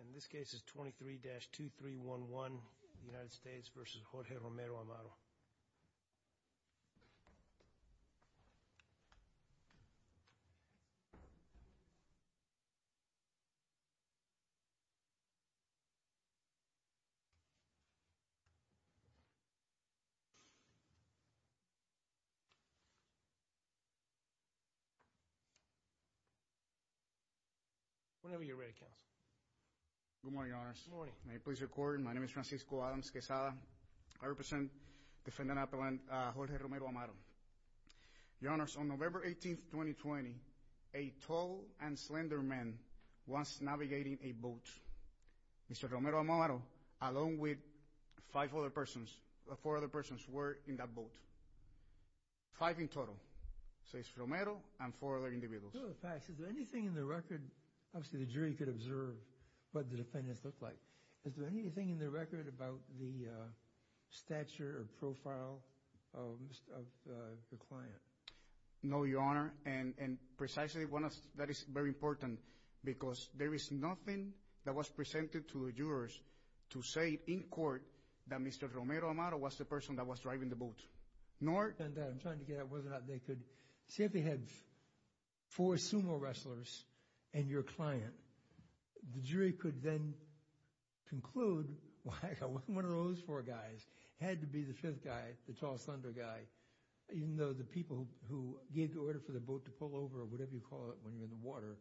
And this case is 23-2311, United States v. Jorge Romero-Amaro. Whenever you're ready, counsel. Good morning, your honors. May I please record? My name is Francisco Adams-Quesada. I represent Defendant Appellant Jorge Romero-Amaro. Your honors, on November 18, 2020, a tall and slender man was navigating a boat. Mr. Romero-Amaro, along with five other persons, four other persons were in that boat. Five in total. So it's Romero and four other individuals. Two other facts. Is there anything in the record, obviously the jury could observe what the defendants looked like. Is there anything in the record about the stature or profile of the client? No, your honor. And precisely, that is very important because there is nothing that was presented to the jurors to say in court that Mr. Romero-Amaro was the person that was driving the boat. See if they had four sumo wrestlers and your client. The jury could then conclude one of those four guys had to be the fifth guy, the tall slender guy. Even though the people who gave the order for the boat to pull over or whatever you call it when you're in the water,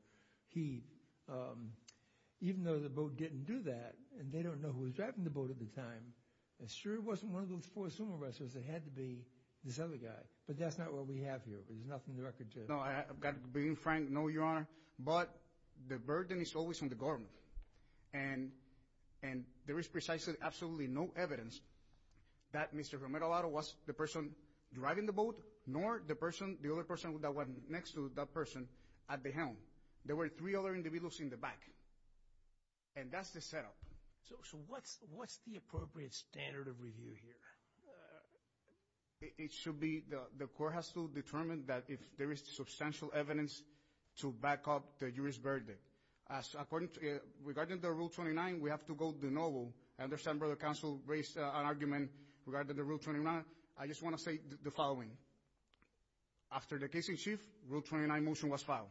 even though the boat didn't do that and they don't know who was driving the boat at the time, the jury wasn't one of those four sumo wrestlers. It had to be this other guy. But that's not what we have here. There's nothing in the record. No, being frank, no, your honor. But the burden is always on the government. And there is precisely absolutely no evidence that Mr. Romero-Amaro was the person driving the boat nor the other person that went next to that person at the helm. There were three other individuals in the back. And that's the setup. So what's the appropriate standard of review here? It should be the court has to determine that if there is substantial evidence to back up the jury's verdict. Regarding the Rule 29, we have to go to the novel. I understand where the counsel raised an argument regarding the Rule 29. I just want to say the following. After the case in chief, Rule 29 motion was filed.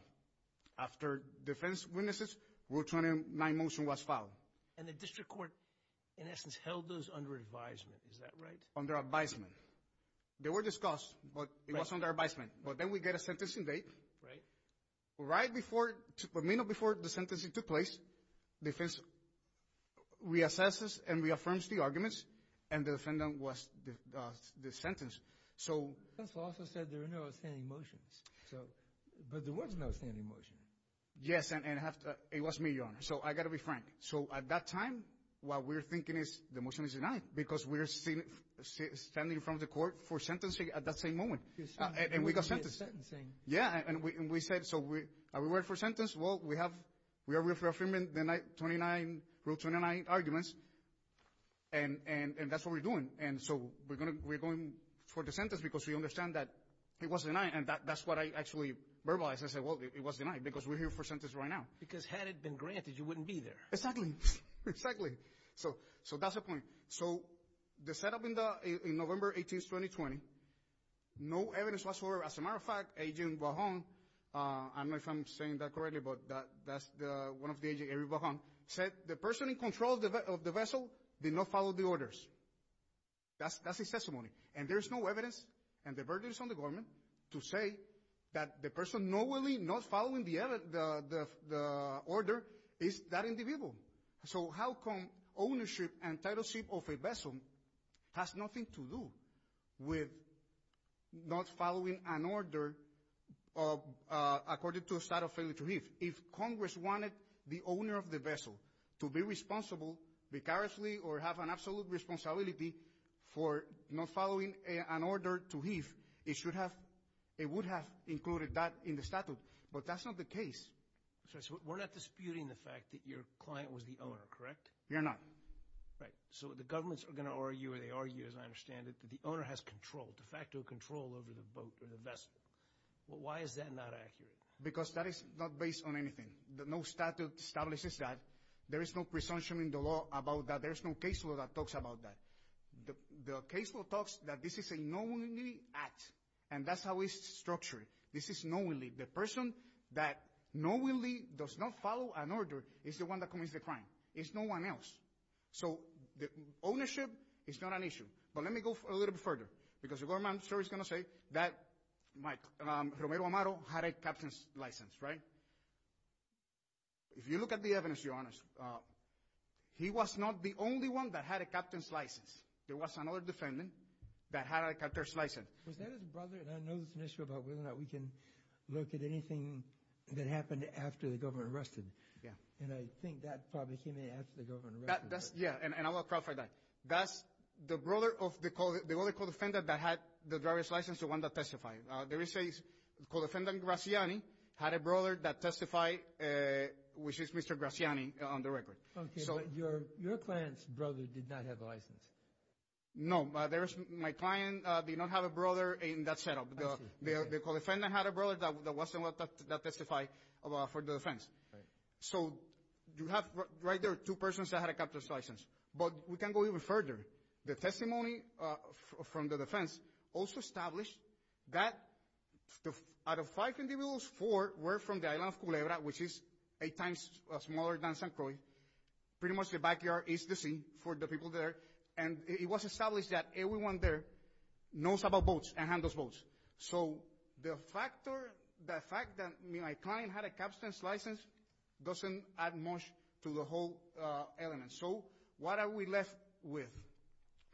After defense witnesses, Rule 29 motion was filed. And the district court, in essence, held those under advisement. Is that right? Under advisement. They were discussed, but it was under advisement. But then we get a sentencing date. Right before the sentencing took place, defense reassesses and reaffirms the arguments, and the defendant was sentenced. Counsel also said there were no outstanding motions. But there was no outstanding motion. Yes, and it was me, Your Honor. So I've got to be frank. So at that time, what we're thinking is the motion is denied because we're standing in front of the court for sentencing at that same moment. And we got sentenced. Yeah, and we said, so are we waiting for a sentence? Well, we are reaffirming the Rule 29 arguments, and that's what we're doing. And so we're going for the sentence because we understand that it was denied, and that's what I actually verbalized. I said, well, it was denied because we're here for a sentence right now. Because had it been granted, you wouldn't be there. Exactly. Exactly. So that's the point. So the setup in November 18, 2020, no evidence whatsoever. As a matter of fact, Agent Bajon, I don't know if I'm saying that correctly, but that's one of the agents, Agent Bajon, said the person in control of the vessel did not follow the orders. That's his testimony. And there's no evidence, and the burden is on the government, to say that the person not following the order is that individual. So how come ownership and title of a vessel has nothing to do with not following an order according to a statute of failure to heave? If Congress wanted the owner of the vessel to be responsible, vicariously or have an absolute responsibility for not following an order to heave, it would have included that in the statute. But that's not the case. So we're not disputing the fact that your client was the owner, correct? We are not. Right. So the governments are going to argue, or they argue, as I understand it, that the owner has control, de facto control over the boat or the vessel. Why is that not accurate? Because that is not based on anything. No statute establishes that. There is no presumption in the law about that. There is no case law that talks about that. The case law talks that this is a knowingly act, and that's how it's structured. This is knowingly. The person that knowingly does not follow an order is the one that commits the crime. It's no one else. So ownership is not an issue. But let me go a little bit further because the government is going to say that Romero Amaro had a captain's license, right? If you look at the evidence, Your Honor, he was not the only one that had a captain's license. There was another defendant that had a captain's license. Was that his brother? And I know there's an issue about whether or not we can look at anything that happened after the government arrested. And I think that probably came in after the government arrested. Yeah, and I will clarify that. That's the brother of the other co-defendant that had the driver's license, the one that testified. There is a co-defendant, Graziani, had a brother that testified, which is Mr. Graziani on the record. Okay, but your client's brother did not have a license. No. My client did not have a brother in that setup. The co-defendant had a brother that was the one that testified for the defense. So you have right there two persons that had a captain's license. But we can go even further. The testimony from the defense also established that out of five individuals, four were from the island of Culebra, which is eight times smaller than St. Croix. Pretty much the backyard is the sea for the people there. And it was established that everyone there knows about boats and handles boats. So the fact that my client had a captain's license doesn't add much to the whole element. So what are we left with?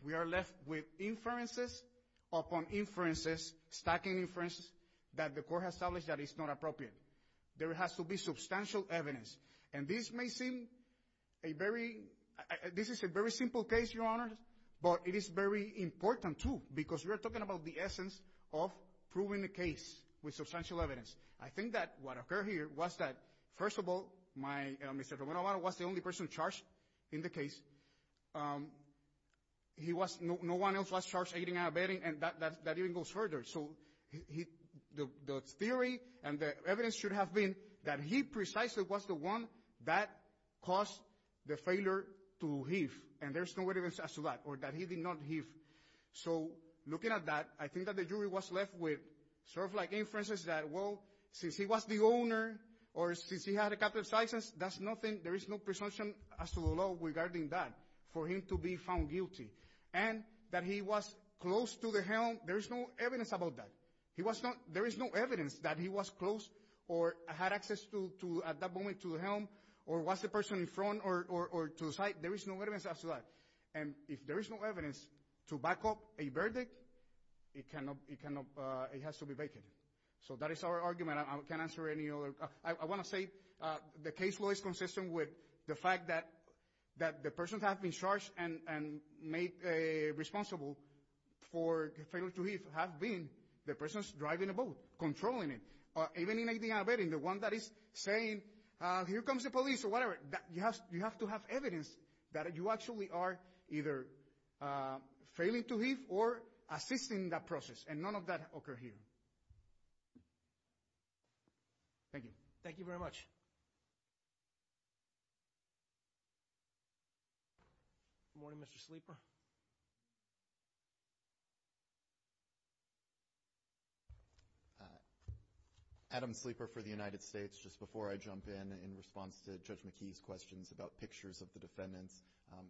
We are left with inferences upon inferences, stacking inferences that the court has established that is not appropriate. There has to be substantial evidence. And this may seem a very ñ this is a very simple case, Your Honor, but it is very important too because we are talking about the essence of proving the case with substantial evidence. I think that what occurred here was that, first of all, my ñ Mr. Romero was the only person charged in the case. He was ñ no one else was charged aiding and abetting, and that even goes further. So the theory and the evidence should have been that he precisely was the one that caused the failure to heave. And there's no evidence as to that or that he did not heave. So looking at that, I think that the jury was left with sort of like inferences that, well, since he was the owner or since he had a captain's license, that's nothing. There is no presumption as to the law regarding that for him to be found guilty. And that he was close to the helm, there is no evidence about that. He was not ñ there is no evidence that he was close or had access to, at that moment, to the helm or was the person in front or to the side. There is no evidence as to that. And if there is no evidence to back up a verdict, it cannot ñ it cannot ñ it has to be vacant. So that is our argument. I can't answer any other ñ I want to say the case law is consistent with the fact that the persons have been charged and made responsible for failure to heave have been the persons driving the boat, controlling it. Even in aiding and abetting, the one that is saying, here comes the police or whatever, you have to have evidence that you actually are either failing to heave or assisting in that process. And none of that occurred here. Thank you. Thank you very much. Good morning, Mr. Sleeper. Adam Sleeper for the United States. Just before I jump in, in response to Judge McKee's questions about pictures of the defendants,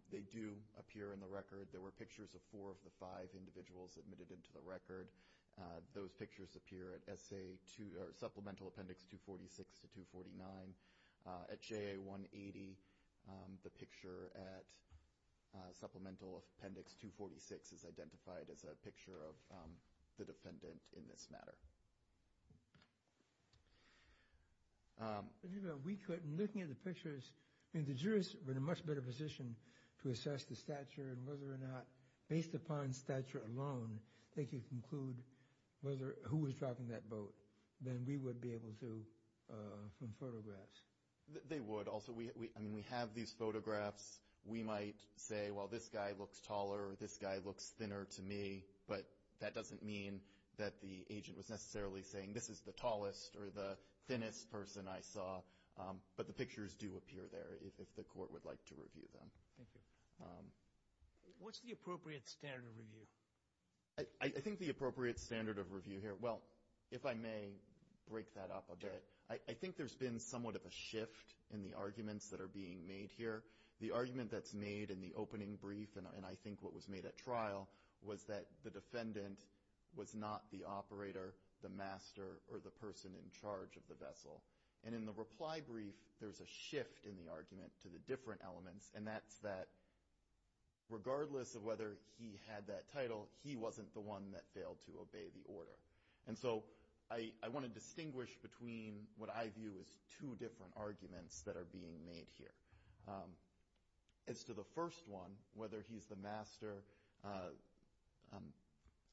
they do appear in the record. There were pictures of four of the five individuals admitted into the record. Those pictures appear at Supplemental Appendix 246 to 249. At JA 180, the picture at Supplemental Appendix 246 is identified as a picture of the defendant in this matter. We could, in looking at the pictures, the jurors were in a much better position to assess the stature and whether or not, based upon stature alone, they could conclude who was driving that boat than we would be able to from photographs. They would. Also, I mean, we have these photographs. We might say, well, this guy looks taller or this guy looks thinner to me, but that doesn't mean that the agent was necessarily saying this is the tallest or the thinnest person I saw. But the pictures do appear there if the court would like to review them. Thank you. What's the appropriate standard of review? I think the appropriate standard of review here, well, if I may break that up a bit, I think there's been somewhat of a shift in the arguments that are being made here. The argument that's made in the opening brief, and I think what was made at trial, was that the defendant was not the operator, the master, or the person in charge of the vessel. And in the reply brief, there's a shift in the argument to the different elements, and that's that regardless of whether he had that title, he wasn't the one that failed to obey the order. And so I want to distinguish between what I view as two different arguments that are being made here. As to the first one, whether he's the master,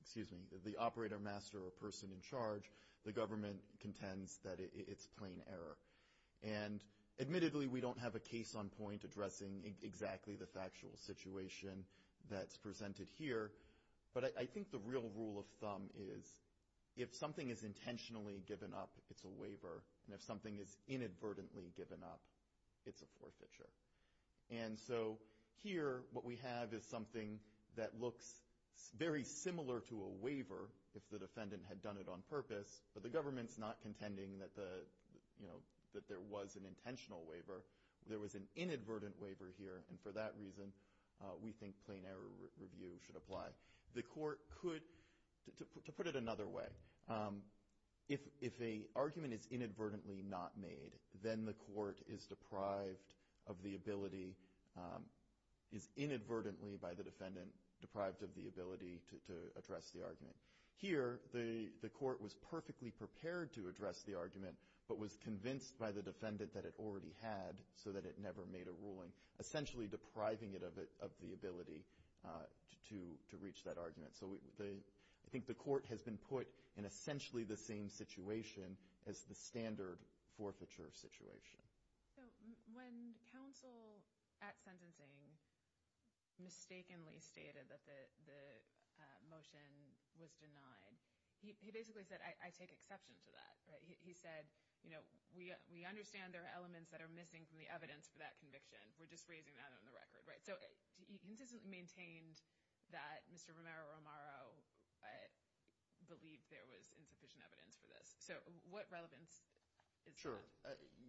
excuse me, the operator, master, or person in charge, the government contends that it's plain error. And admittedly, we don't have a case on point addressing exactly the factual situation that's presented here, but I think the real rule of thumb is if something is intentionally given up, it's a waiver, and if something is inadvertently given up, it's a forfeiture. And so here what we have is something that looks very similar to a waiver if the defendant had done it on purpose, but the government's not contending that there was an intentional waiver. There was an inadvertent waiver here, and for that reason, we think plain error review should apply. The court could, to put it another way, if an argument is inadvertently not made, then the court is deprived of the ability, is inadvertently by the defendant deprived of the ability to address the argument. Here, the court was perfectly prepared to address the argument, but was convinced by the defendant that it already had so that it never made a ruling, essentially depriving it of the ability to reach that argument. So I think the court has been put in essentially the same situation as the standard forfeiture situation. When counsel at sentencing mistakenly stated that the motion was denied, he basically said, I take exception to that. He said, we understand there are elements that are missing from the evidence for that conviction. We're just raising that on the record. So he consistently maintained that Mr. Romero-Romero believed there was insufficient evidence for this. So what relevance is that? Sure.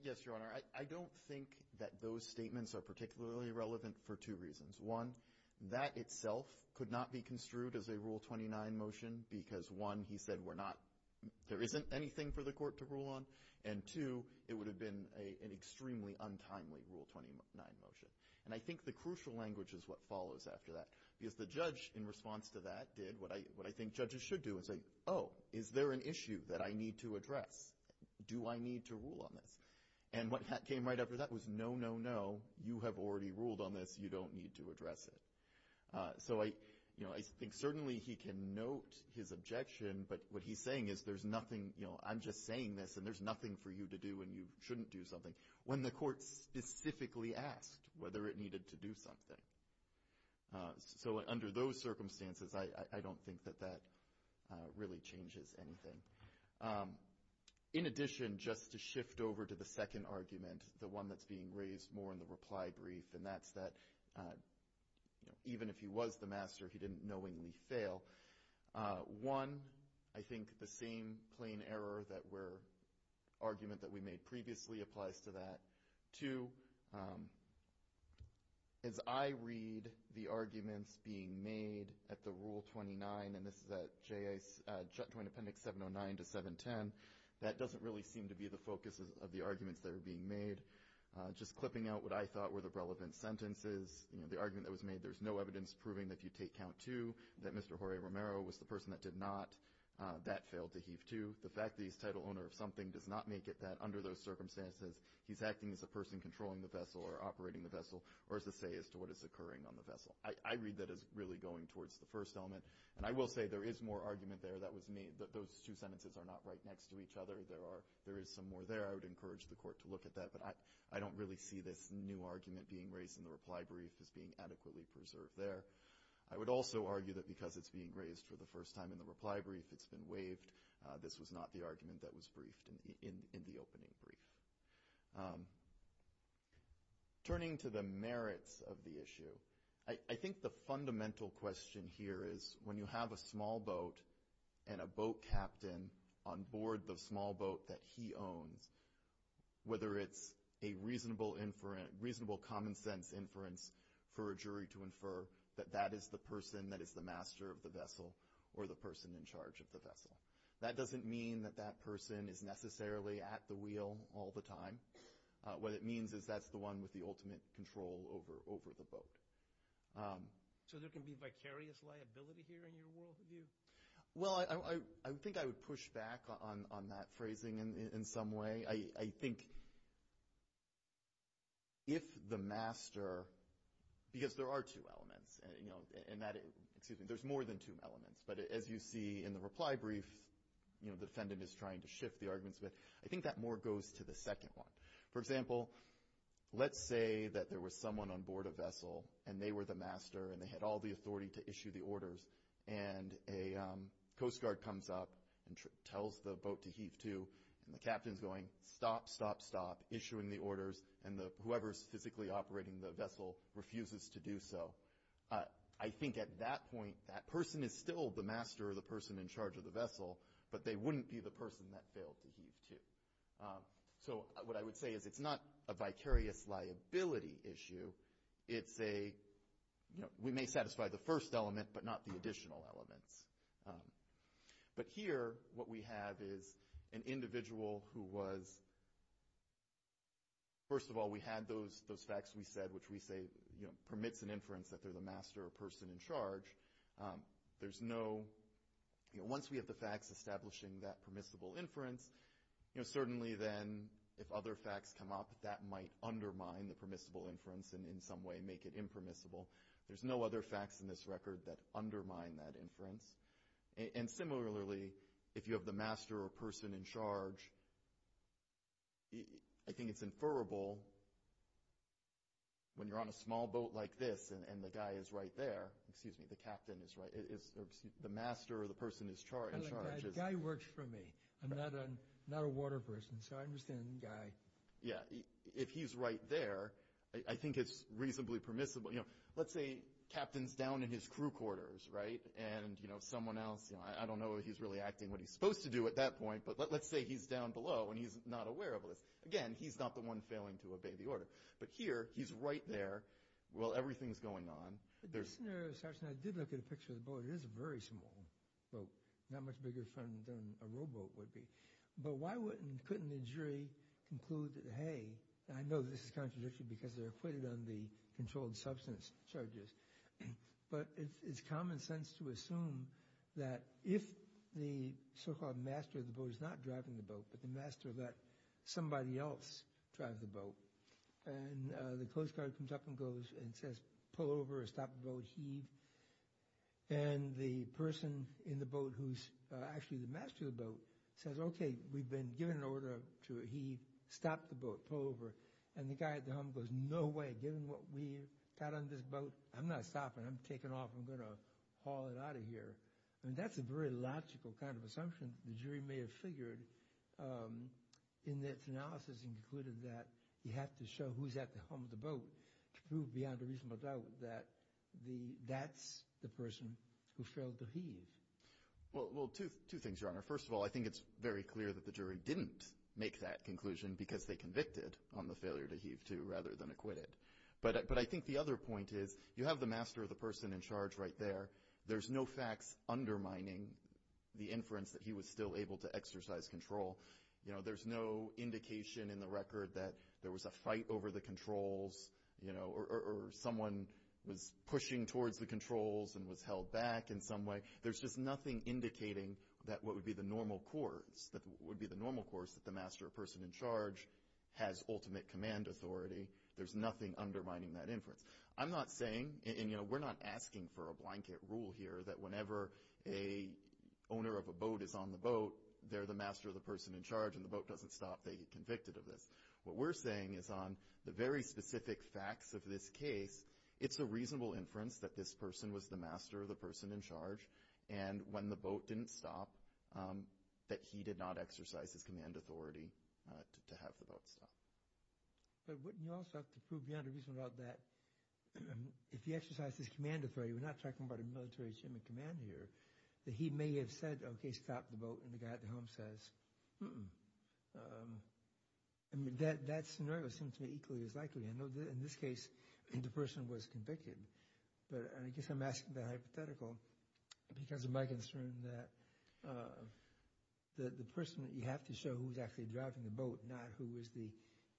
Yes, Your Honor. I don't think that those statements are particularly relevant for two reasons. One, that itself could not be construed as a Rule 29 motion because, one, he said we're not ‑‑ there isn't anything for the court to rule on, and, two, it would have been an extremely untimely Rule 29 motion. And I think the crucial language is what follows after that. Because the judge, in response to that, did what I think judges should do and say, oh, is there an issue that I need to address? Do I need to rule on this? And what came right after that was, no, no, no, you have already ruled on this. You don't need to address it. So I think certainly he can note his objection, but what he's saying is there's nothing, you know, I'm just saying this and there's nothing for you to do and you shouldn't do something, when the court specifically asked whether it needed to do something. So under those circumstances, I don't think that that really changes anything. In addition, just to shift over to the second argument, the one that's being raised more in the reply brief, and that's that, you know, even if he was the master, he didn't knowingly fail. One, I think the same plain error that we're ‑‑ argument that we made previously applies to that. Two, as I read the arguments being made at the Rule 29, and this is at Joint Appendix 709 to 710, that doesn't really seem to be the focus of the arguments that are being made. Just clipping out what I thought were the relevant sentences, you know, the argument that was made, there's no evidence proving that if you take count two, that Mr. Jorge Romero was the person that did not, that failed to heave two. The fact that he's title owner of something does not make it that under those circumstances, he's acting as a person controlling the vessel or operating the vessel or as a say as to what is occurring on the vessel. I read that as really going towards the first element. And I will say there is more argument there that was made. Those two sentences are not right next to each other. There is some more there. I would encourage the court to look at that. But I don't really see this new argument being raised in the reply brief as being adequately preserved there. I would also argue that because it's being raised for the first time in the reply brief, it's been waived. This was not the argument that was briefed in the opening brief. Turning to the merits of the issue, I think the fundamental question here is when you have a small boat and a boat captain on board the small boat that he owns, whether it's a reasonable common sense inference for a jury to infer that that is the person that is the master of the vessel or the person in charge of the vessel. That doesn't mean that that person is necessarily at the wheel all the time. What it means is that's the one with the ultimate control over the boat. So there can be vicarious liability here in your worldview? Well, I think I would push back on that phrasing in some way. I think if the master, because there are two elements, and that, excuse me, there's more than two elements. But as you see in the reply brief, you know, the defendant is trying to shift the arguments. But I think that more goes to the second one. For example, let's say that there was someone on board a vessel, and they were the master, and they had all the authority to issue the orders. And a Coast Guard comes up and tells the boat to heave to, and the captain's going, stop, stop, stop, issuing the orders, and whoever's physically operating the vessel refuses to do so. I think at that point, that person is still the master or the person in charge of the vessel, but they wouldn't be the person that failed to heave to. So what I would say is it's not a vicarious liability issue. It's a, you know, we may satisfy the first element, but not the additional elements. But here, what we have is an individual who was, first of all, we had those facts we said, which we say, you know, permits an inference that they're the master or person in charge. There's no, you know, once we have the facts establishing that permissible inference, you know, certainly then if other facts come up, that might undermine the permissible inference and in some way make it impermissible. There's no other facts in this record that undermine that inference. And similarly, if you have the master or person in charge, I think it's inferable when you're on a small boat like this, and the guy is right there, excuse me, the captain is right, or excuse me, the master or the person in charge. The guy works for me. I'm not a water person, so I understand the guy. Yeah. If he's right there, I think it's reasonably permissible. You know, let's say captain's down in his crew quarters, right, and, you know, someone else, you know, I don't know if he's really acting what he's supposed to do at that point, but let's say he's down below and he's not aware of this. Again, he's not the one failing to obey the order. But here, he's right there while everything's going on. But this scenario starts, and I did look at a picture of the boat. It is a very small boat, not much bigger than a rowboat would be. But why couldn't the jury conclude that, hey, I know this is contradictory because they're acquitted on the controlled substance charges, but it's common sense to assume that if the so-called master of the boat is not driving the boat, but the master let somebody else drive the boat, and the coast guard comes up and goes and says, pull over or stop the boat, heave. And the person in the boat who's actually the master of the boat says, okay, we've been given an order to heave, stop the boat, pull over. And the guy at the helm goes, no way. Given what we've got on this boat, I'm not stopping. I'm taking off. I'm going to haul it out of here. And that's a very logical kind of assumption the jury may have figured in this analysis and concluded that you have to show who's at the helm of the boat to prove beyond a reasonable doubt that that's the person who failed to heave. Well, two things, Your Honor. First of all, I think it's very clear that the jury didn't make that conclusion because they convicted on the failure to heave rather than acquit it. But I think the other point is you have the master of the person in charge right there. There's no facts undermining the inference that he was still able to exercise control. You know, there's no indication in the record that there was a fight over the controls, you know, or someone was pushing towards the controls and was held back in some way. There's just nothing indicating that what would be the normal course, that would be the normal course that the master of person in charge has ultimate command authority. There's nothing undermining that inference. I'm not saying, and, you know, we're not asking for a blanket rule here that whenever an owner of a boat is on the boat, they're the master of the person in charge, and the boat doesn't stop, they get convicted of this. What we're saying is on the very specific facts of this case, it's a reasonable inference that this person was the master of the person in charge, and when the boat didn't stop, that he did not exercise his command authority to have the boat stop. But wouldn't you also have to prove beyond a reasonable doubt that if he exercised his command authority, we're not talking about a military ship in command here, that he may have said, okay, stop the boat, and the guy at the helm says, mm-mm. I mean, that scenario seems to me equally as likely. I know in this case, the person was convicted, but I guess I'm asking that hypothetical because of my concern that the person that you have to show who's actually driving the boat, not who is the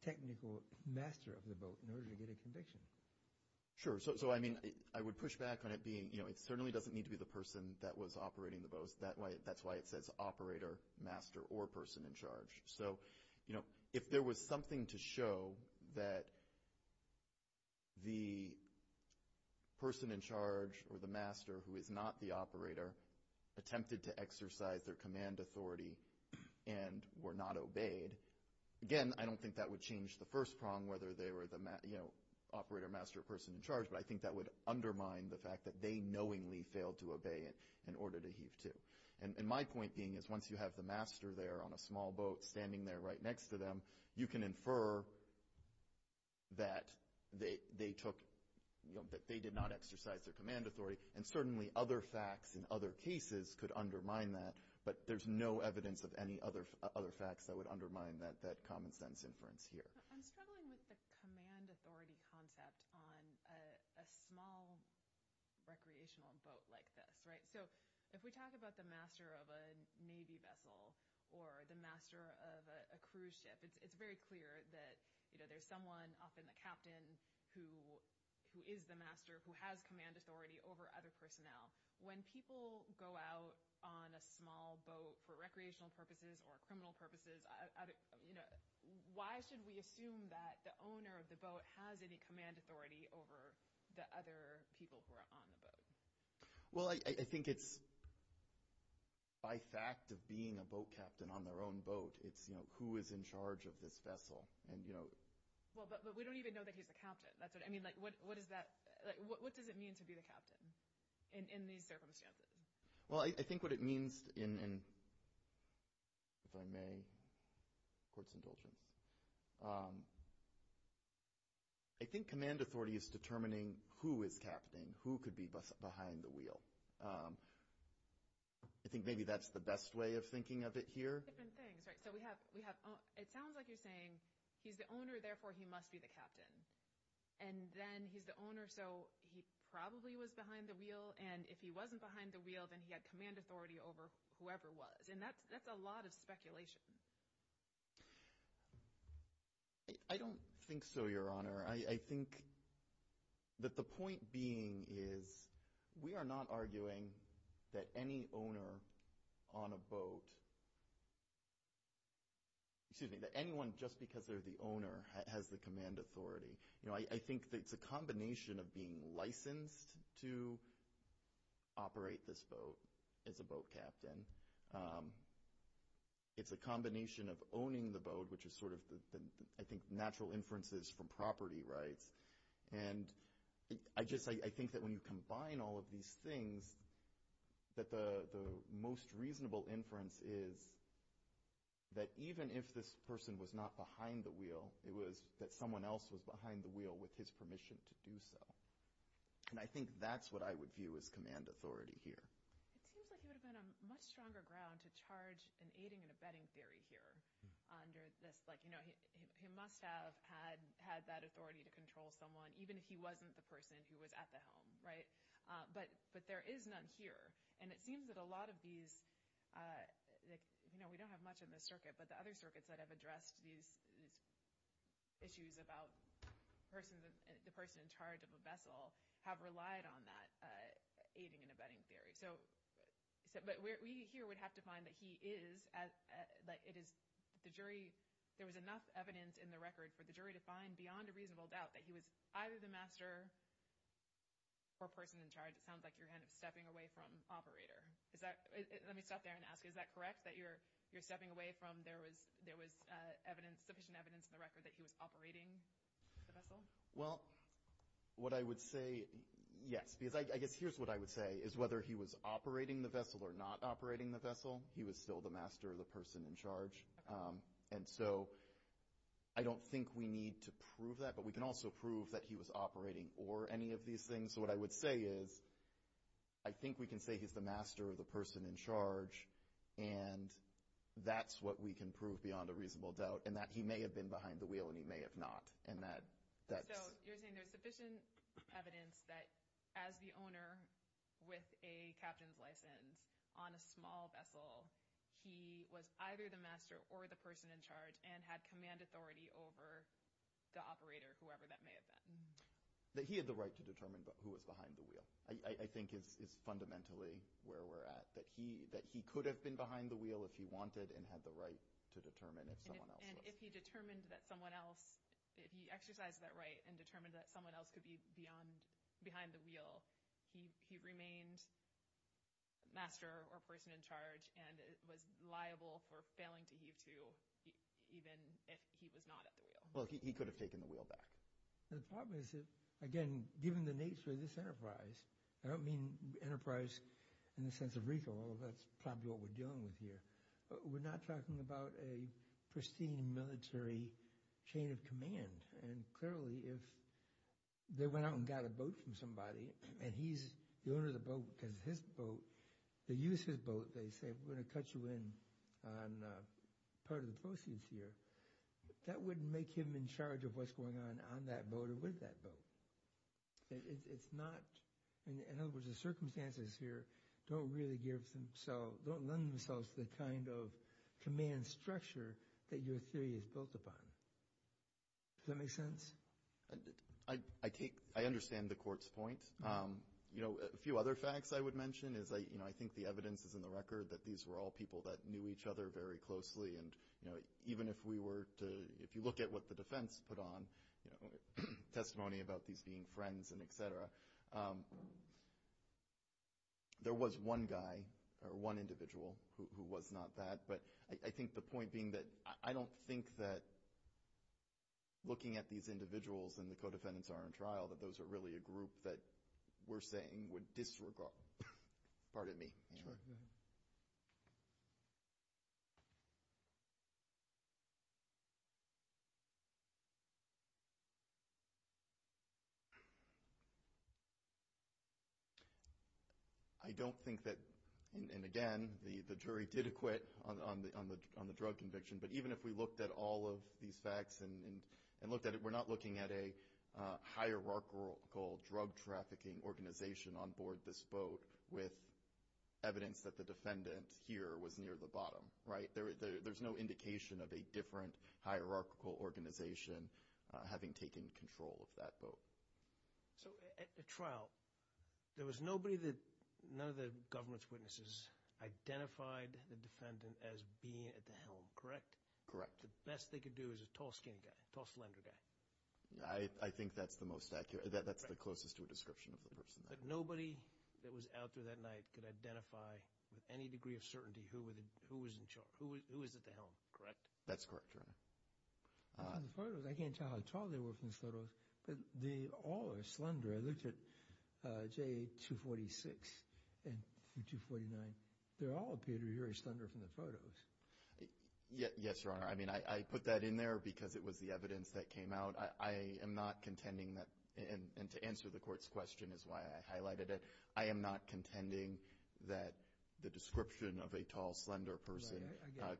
technical master of the boat in order to get a conviction. Sure. So, I mean, I would push back on it being, you know, it certainly doesn't need to be the person that was operating the boat. That's why it says operator, master, or person in charge. So, you know, if there was something to show that the person in charge or the master who is not the operator attempted to exercise their command authority and were not obeyed, again, I don't think that would change the first prong whether they were the, you know, operator, master, or person in charge, but I think that would undermine the fact that they knowingly failed to obey in order to heave to. And my point being is once you have the master there on a small boat standing there right next to them, you can infer that they took, you know, that they did not exercise their command authority, and certainly other facts in other cases could undermine that, but there's no evidence of any other facts that would undermine that common sense inference here. I'm struggling with the command authority concept on a small recreational boat like this, right? So, if we talk about the master of a Navy vessel or the master of a cruise ship, it's very clear that, you know, there's someone, often the captain, who is the master, who has command authority over other personnel. When people go out on a small boat for recreational purposes or criminal purposes, you know, why should we assume that the owner of the boat has any command authority over the other people who are on the boat? Well, I think it's by fact of being a boat captain on their own boat, it's, you know, who is in charge of this vessel, and, you know. Well, but we don't even know that he's the captain. I mean, like, what does it mean to be the captain in these circumstances? Well, I think what it means in, if I may, court's indulgence, I think command authority is determining who is captain, who could be behind the wheel. I think maybe that's the best way of thinking of it here. Different things, right? So we have—it sounds like you're saying he's the owner, therefore he must be the captain. And then he's the owner, so he probably was behind the wheel, and if he wasn't behind the wheel, then he had command authority over whoever was. And that's a lot of speculation. I don't think so, Your Honor. I think that the point being is we are not arguing that any owner on a boat— excuse me, that anyone, just because they're the owner, has the command authority. You know, I think it's a combination of being licensed to operate this boat as a boat captain. It's a combination of owning the boat, which is sort of, I think, natural inferences from property rights. And I think that when you combine all of these things, that the most reasonable inference is that even if this person was not behind the wheel, it was that someone else was behind the wheel with his permission to do so. And I think that's what I would view as command authority here. It seems like you would have been on much stronger ground to charge an aiding and abetting theory here under this, like, you know, he must have had that authority to control someone, even if he wasn't the person who was at the helm, right? But there is none here. And it seems that a lot of these—you know, we don't have much in this circuit, but the other circuits that have addressed these issues about the person in charge of a vessel have relied on that aiding and abetting theory. But we here would have to find that he is—that it is the jury— there was enough evidence in the record for the jury to find beyond a reasonable doubt that he was either the master or person in charge. It sounds like you're kind of stepping away from operator. Let me stop there and ask you, is that correct, that you're stepping away from there was sufficient evidence in the record that he was operating the vessel? Well, what I would say, yes. Because I guess here's what I would say, is whether he was operating the vessel or not operating the vessel, he was still the master or the person in charge. And so I don't think we need to prove that, but we can also prove that he was operating or any of these things. So what I would say is I think we can say he's the master or the person in charge, and that's what we can prove beyond a reasonable doubt, and that he may have been behind the wheel and he may have not. So you're saying there's sufficient evidence that as the owner with a captain's license on a small vessel, he was either the master or the person in charge and had command authority over the operator, whoever that may have been. That he had the right to determine who was behind the wheel, I think is fundamentally where we're at. That he could have been behind the wheel if he wanted and had the right to determine if someone else was. And if he determined that someone else, if he exercised that right and determined that someone else could be behind the wheel, he remained master or person in charge and was liable for failing to heave to even if he was not at the wheel. Well, he could have taken the wheel back. The problem is, again, given the nature of this enterprise, I don't mean enterprise in the sense of recall, that's probably what we're dealing with here. We're not talking about a pristine military chain of command. And clearly if they went out and got a boat from somebody and he's the owner of the boat because it's his boat, they use his boat, they say, we're going to cut you in on part of the proceeds here. That wouldn't make him in charge of what's going on on that boat or with that boat. It's not, in other words, the circumstances here don't really give themselves, don't lend themselves to the kind of command structure that your theory is built upon. Does that make sense? I take, I understand the court's point. You know, a few other facts I would mention is, you know, I think the evidence is in the record that these were all people that knew each other very closely. And, you know, even if we were to, if you look at what the defense put on, you know, testimony about these being friends and et cetera, there was one guy or one individual who was not that. But I think the point being that I don't think that looking at these individuals and the co-defendants are in trial that those are really a group that we're saying would disregard, pardon me. Sure. I don't think that, and again, the jury did acquit on the drug conviction, but even if we looked at all of these facts and looked at it, we're not looking at a hierarchical drug trafficking organization on board this boat with evidence that the defendant here was near the bottom, right? There's no indication of a different hierarchical organization having taken control of that boat. So at the trial, there was nobody that, none of the government's witnesses identified the defendant as being at the helm, correct? Correct. The best they could do is a tall-skinned guy, tall, slender guy. I think that's the most accurate. That's the closest to a description of the person. But nobody that was out there that night could identify with any degree of certainty who was in charge, who was at the helm, correct? That's correct, Your Honor. On the photos, I can't tell how tall they were from these photos, but they all are slender. I looked at J246 and 249. They all appear to be very slender from the photos. Yes, Your Honor. I mean, I put that in there because it was the evidence that came out. I am not contending that, and to answer the Court's question is why I highlighted it, I am not contending that the description of a tall, slender person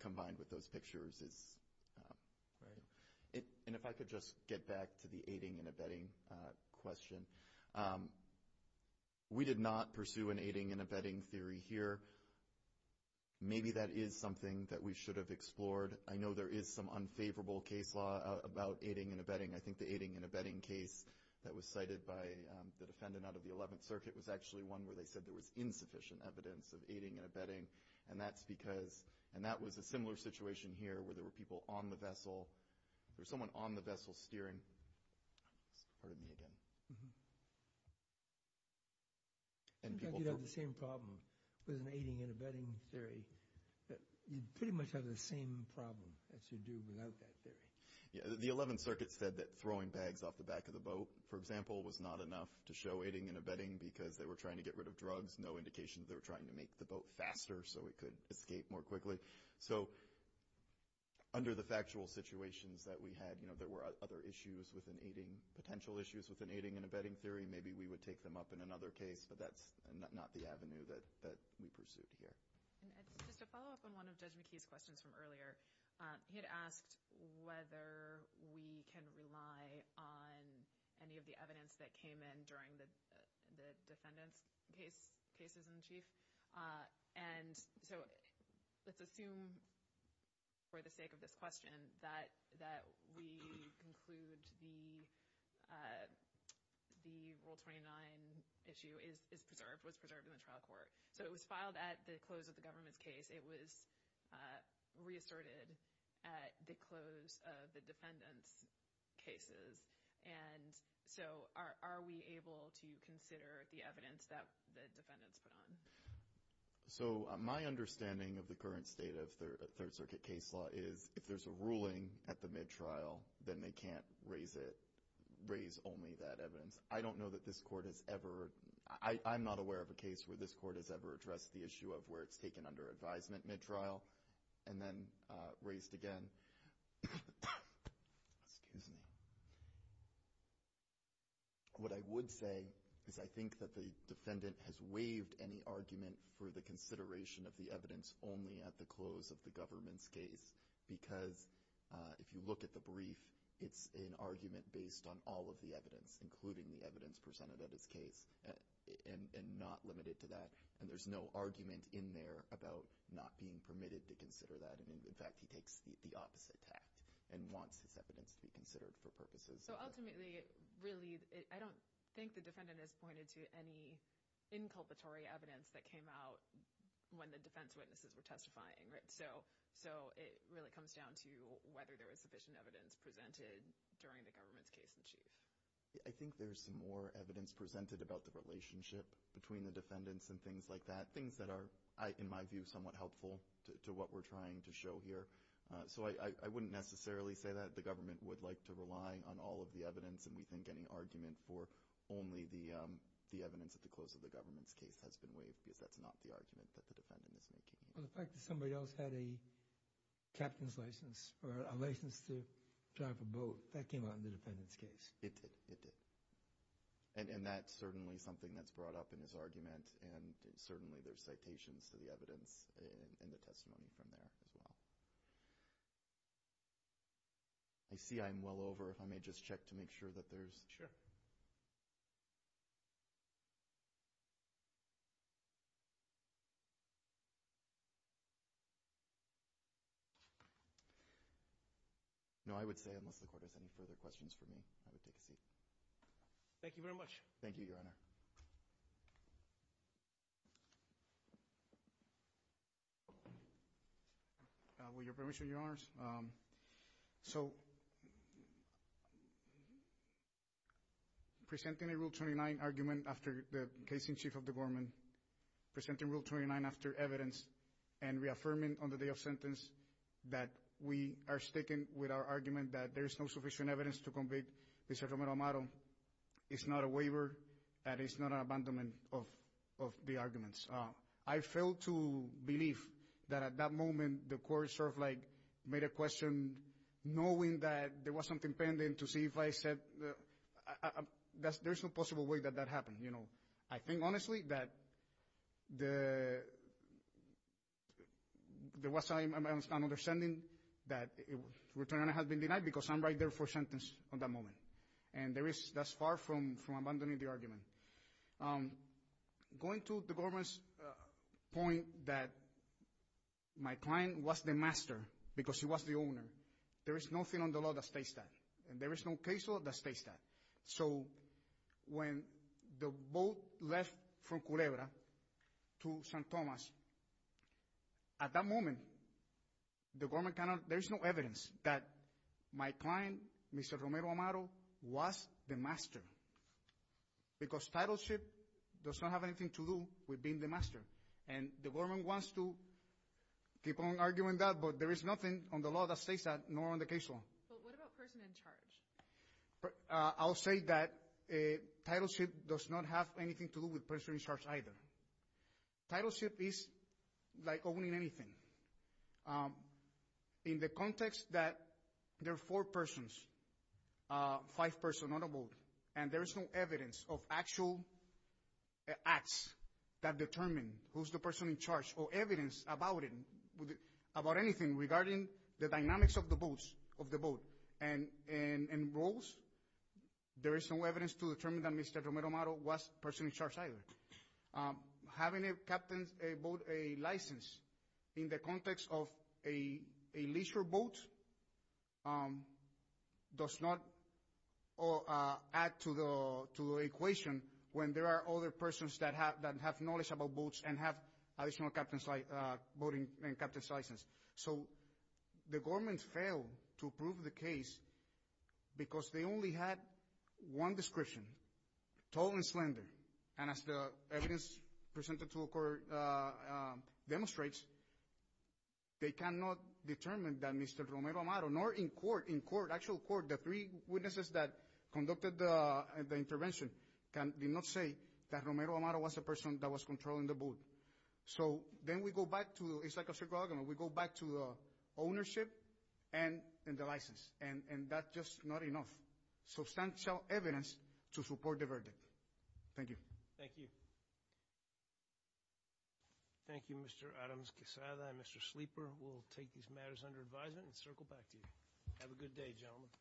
combined with those pictures is correct. And if I could just get back to the aiding and abetting question. We did not pursue an aiding and abetting theory here. Maybe that is something that we should have explored. I know there is some unfavorable case law about aiding and abetting. I think the aiding and abetting case that was cited by the defendant out of the 11th Circuit was actually one where they said there was insufficient evidence of aiding and abetting, and that was a similar situation here where there were people on the vessel. There was someone on the vessel steering. Pardon me again. It seems like you would have the same problem with an aiding and abetting theory. You would pretty much have the same problem as you do without that theory. The 11th Circuit said that throwing bags off the back of the boat, for example, was not enough to show aiding and abetting because they were trying to get rid of drugs, no indication that they were trying to make the boat faster so it could escape more quickly. So under the factual situations that we had, there were other issues with an aiding, potential issues with an aiding and abetting theory. Maybe we would take them up in another case, but that's not the avenue that we pursued here. Just to follow up on one of Judge McKee's questions from earlier, he had asked whether we can rely on any of the evidence that came in during the defendant's cases in the Chief. Let's assume for the sake of this question that we conclude the Rule 29 issue was preserved in the trial court. It was filed at the close of the government's case. It was reasserted at the close of the defendant's cases. So are we able to consider the evidence that the defendants put on? So my understanding of the current state of Third Circuit case law is if there's a ruling at the mid-trial, then they can't raise only that evidence. I don't know that this Court has ever – I'm not aware of a case where this Court has ever addressed the issue of where it's taken under advisement mid-trial and then raised again. Excuse me. What I would say is I think that the defendant has waived any argument for the consideration of the evidence only at the close of the government's case because if you look at the brief, it's an argument based on all of the evidence, including the evidence presented at his case, and not limited to that. And there's no argument in there about not being permitted to consider that. In fact, he takes the opposite tact and wants his evidence to be considered for purposes. So ultimately, really, I don't think the defendant has pointed to any inculpatory evidence that came out when the defense witnesses were testifying, right? So it really comes down to whether there was sufficient evidence presented during the government's case in chief. I think there's some more evidence presented about the relationship between the defendants and things like that, but things that are, in my view, somewhat helpful to what we're trying to show here. So I wouldn't necessarily say that the government would like to rely on all of the evidence and we think any argument for only the evidence at the close of the government's case has been waived because that's not the argument that the defendant is making. The fact that somebody else had a captain's license or a license to drive a boat, that came out in the defendant's case. It did. It did. And that's certainly something that's brought up in his argument and certainly there's citations to the evidence in the testimony from there as well. I see I'm well over. If I may just check to make sure that there's... No, I would say, unless the court has any further questions for me, I would take a seat. Thank you very much. Thank you, Your Honor. Thank you. With your permission, Your Honors. So, presenting a Rule 29 argument after the case in chief of the government, presenting Rule 29 after evidence, and reaffirming on the day of sentence that we are sticking with our argument that there is no sufficient evidence to convict Mr. Romero Amado, it's not a waiver and it's not an abandonment of the arguments. I fail to believe that at that moment the court sort of like made a question knowing that there was something pending to see if I said... There's no possible way that that happened, you know. I think, honestly, that there was some misunderstanding that the return on it has been denied because I'm right there for a sentence on that moment. And that's far from abandoning the argument. Going to the government's point that my client was the master because he was the owner, there is nothing on the law that states that. And there is no case law that states that. So, when the boat left from Culebra to San Tomas, at that moment, the government cannot... There is no evidence that my client, Mr. Romero Amado, was the master because titleship does not have anything to do with being the master. And the government wants to keep on arguing that, but there is nothing on the law that states that, nor on the case law. But what about the person in charge? I'll say that titleship does not have anything to do with the person in charge either. Titleship is like owning anything. In the context that there are four persons, five persons on a boat, and there is no evidence of actual acts that determine who's the person in charge or evidence about anything regarding the dynamics of the boat and roles, there is no evidence to determine that Mr. Romero Amado was the person in charge either. Having a captain's boat license in the context of a leisure boat does not add to the equation when there are other persons that have knowledge about boats and have additional captain's license. So the government failed to prove the case because they only had one description, tall and slender. And as the evidence presented to the court demonstrates, they cannot determine that Mr. Romero Amado, nor in court, in actual court, the three witnesses that conducted the intervention, did not say that Romero Amado was the person that was controlling the boat. So then we go back to ownership and the license, and that's just not enough substantial evidence to support the verdict. Thank you. Thank you. Thank you, Mr. Adams-Quesada and Mr. Sleeper. We'll take these matters under advisement and circle back to you. Have a good day, gentlemen.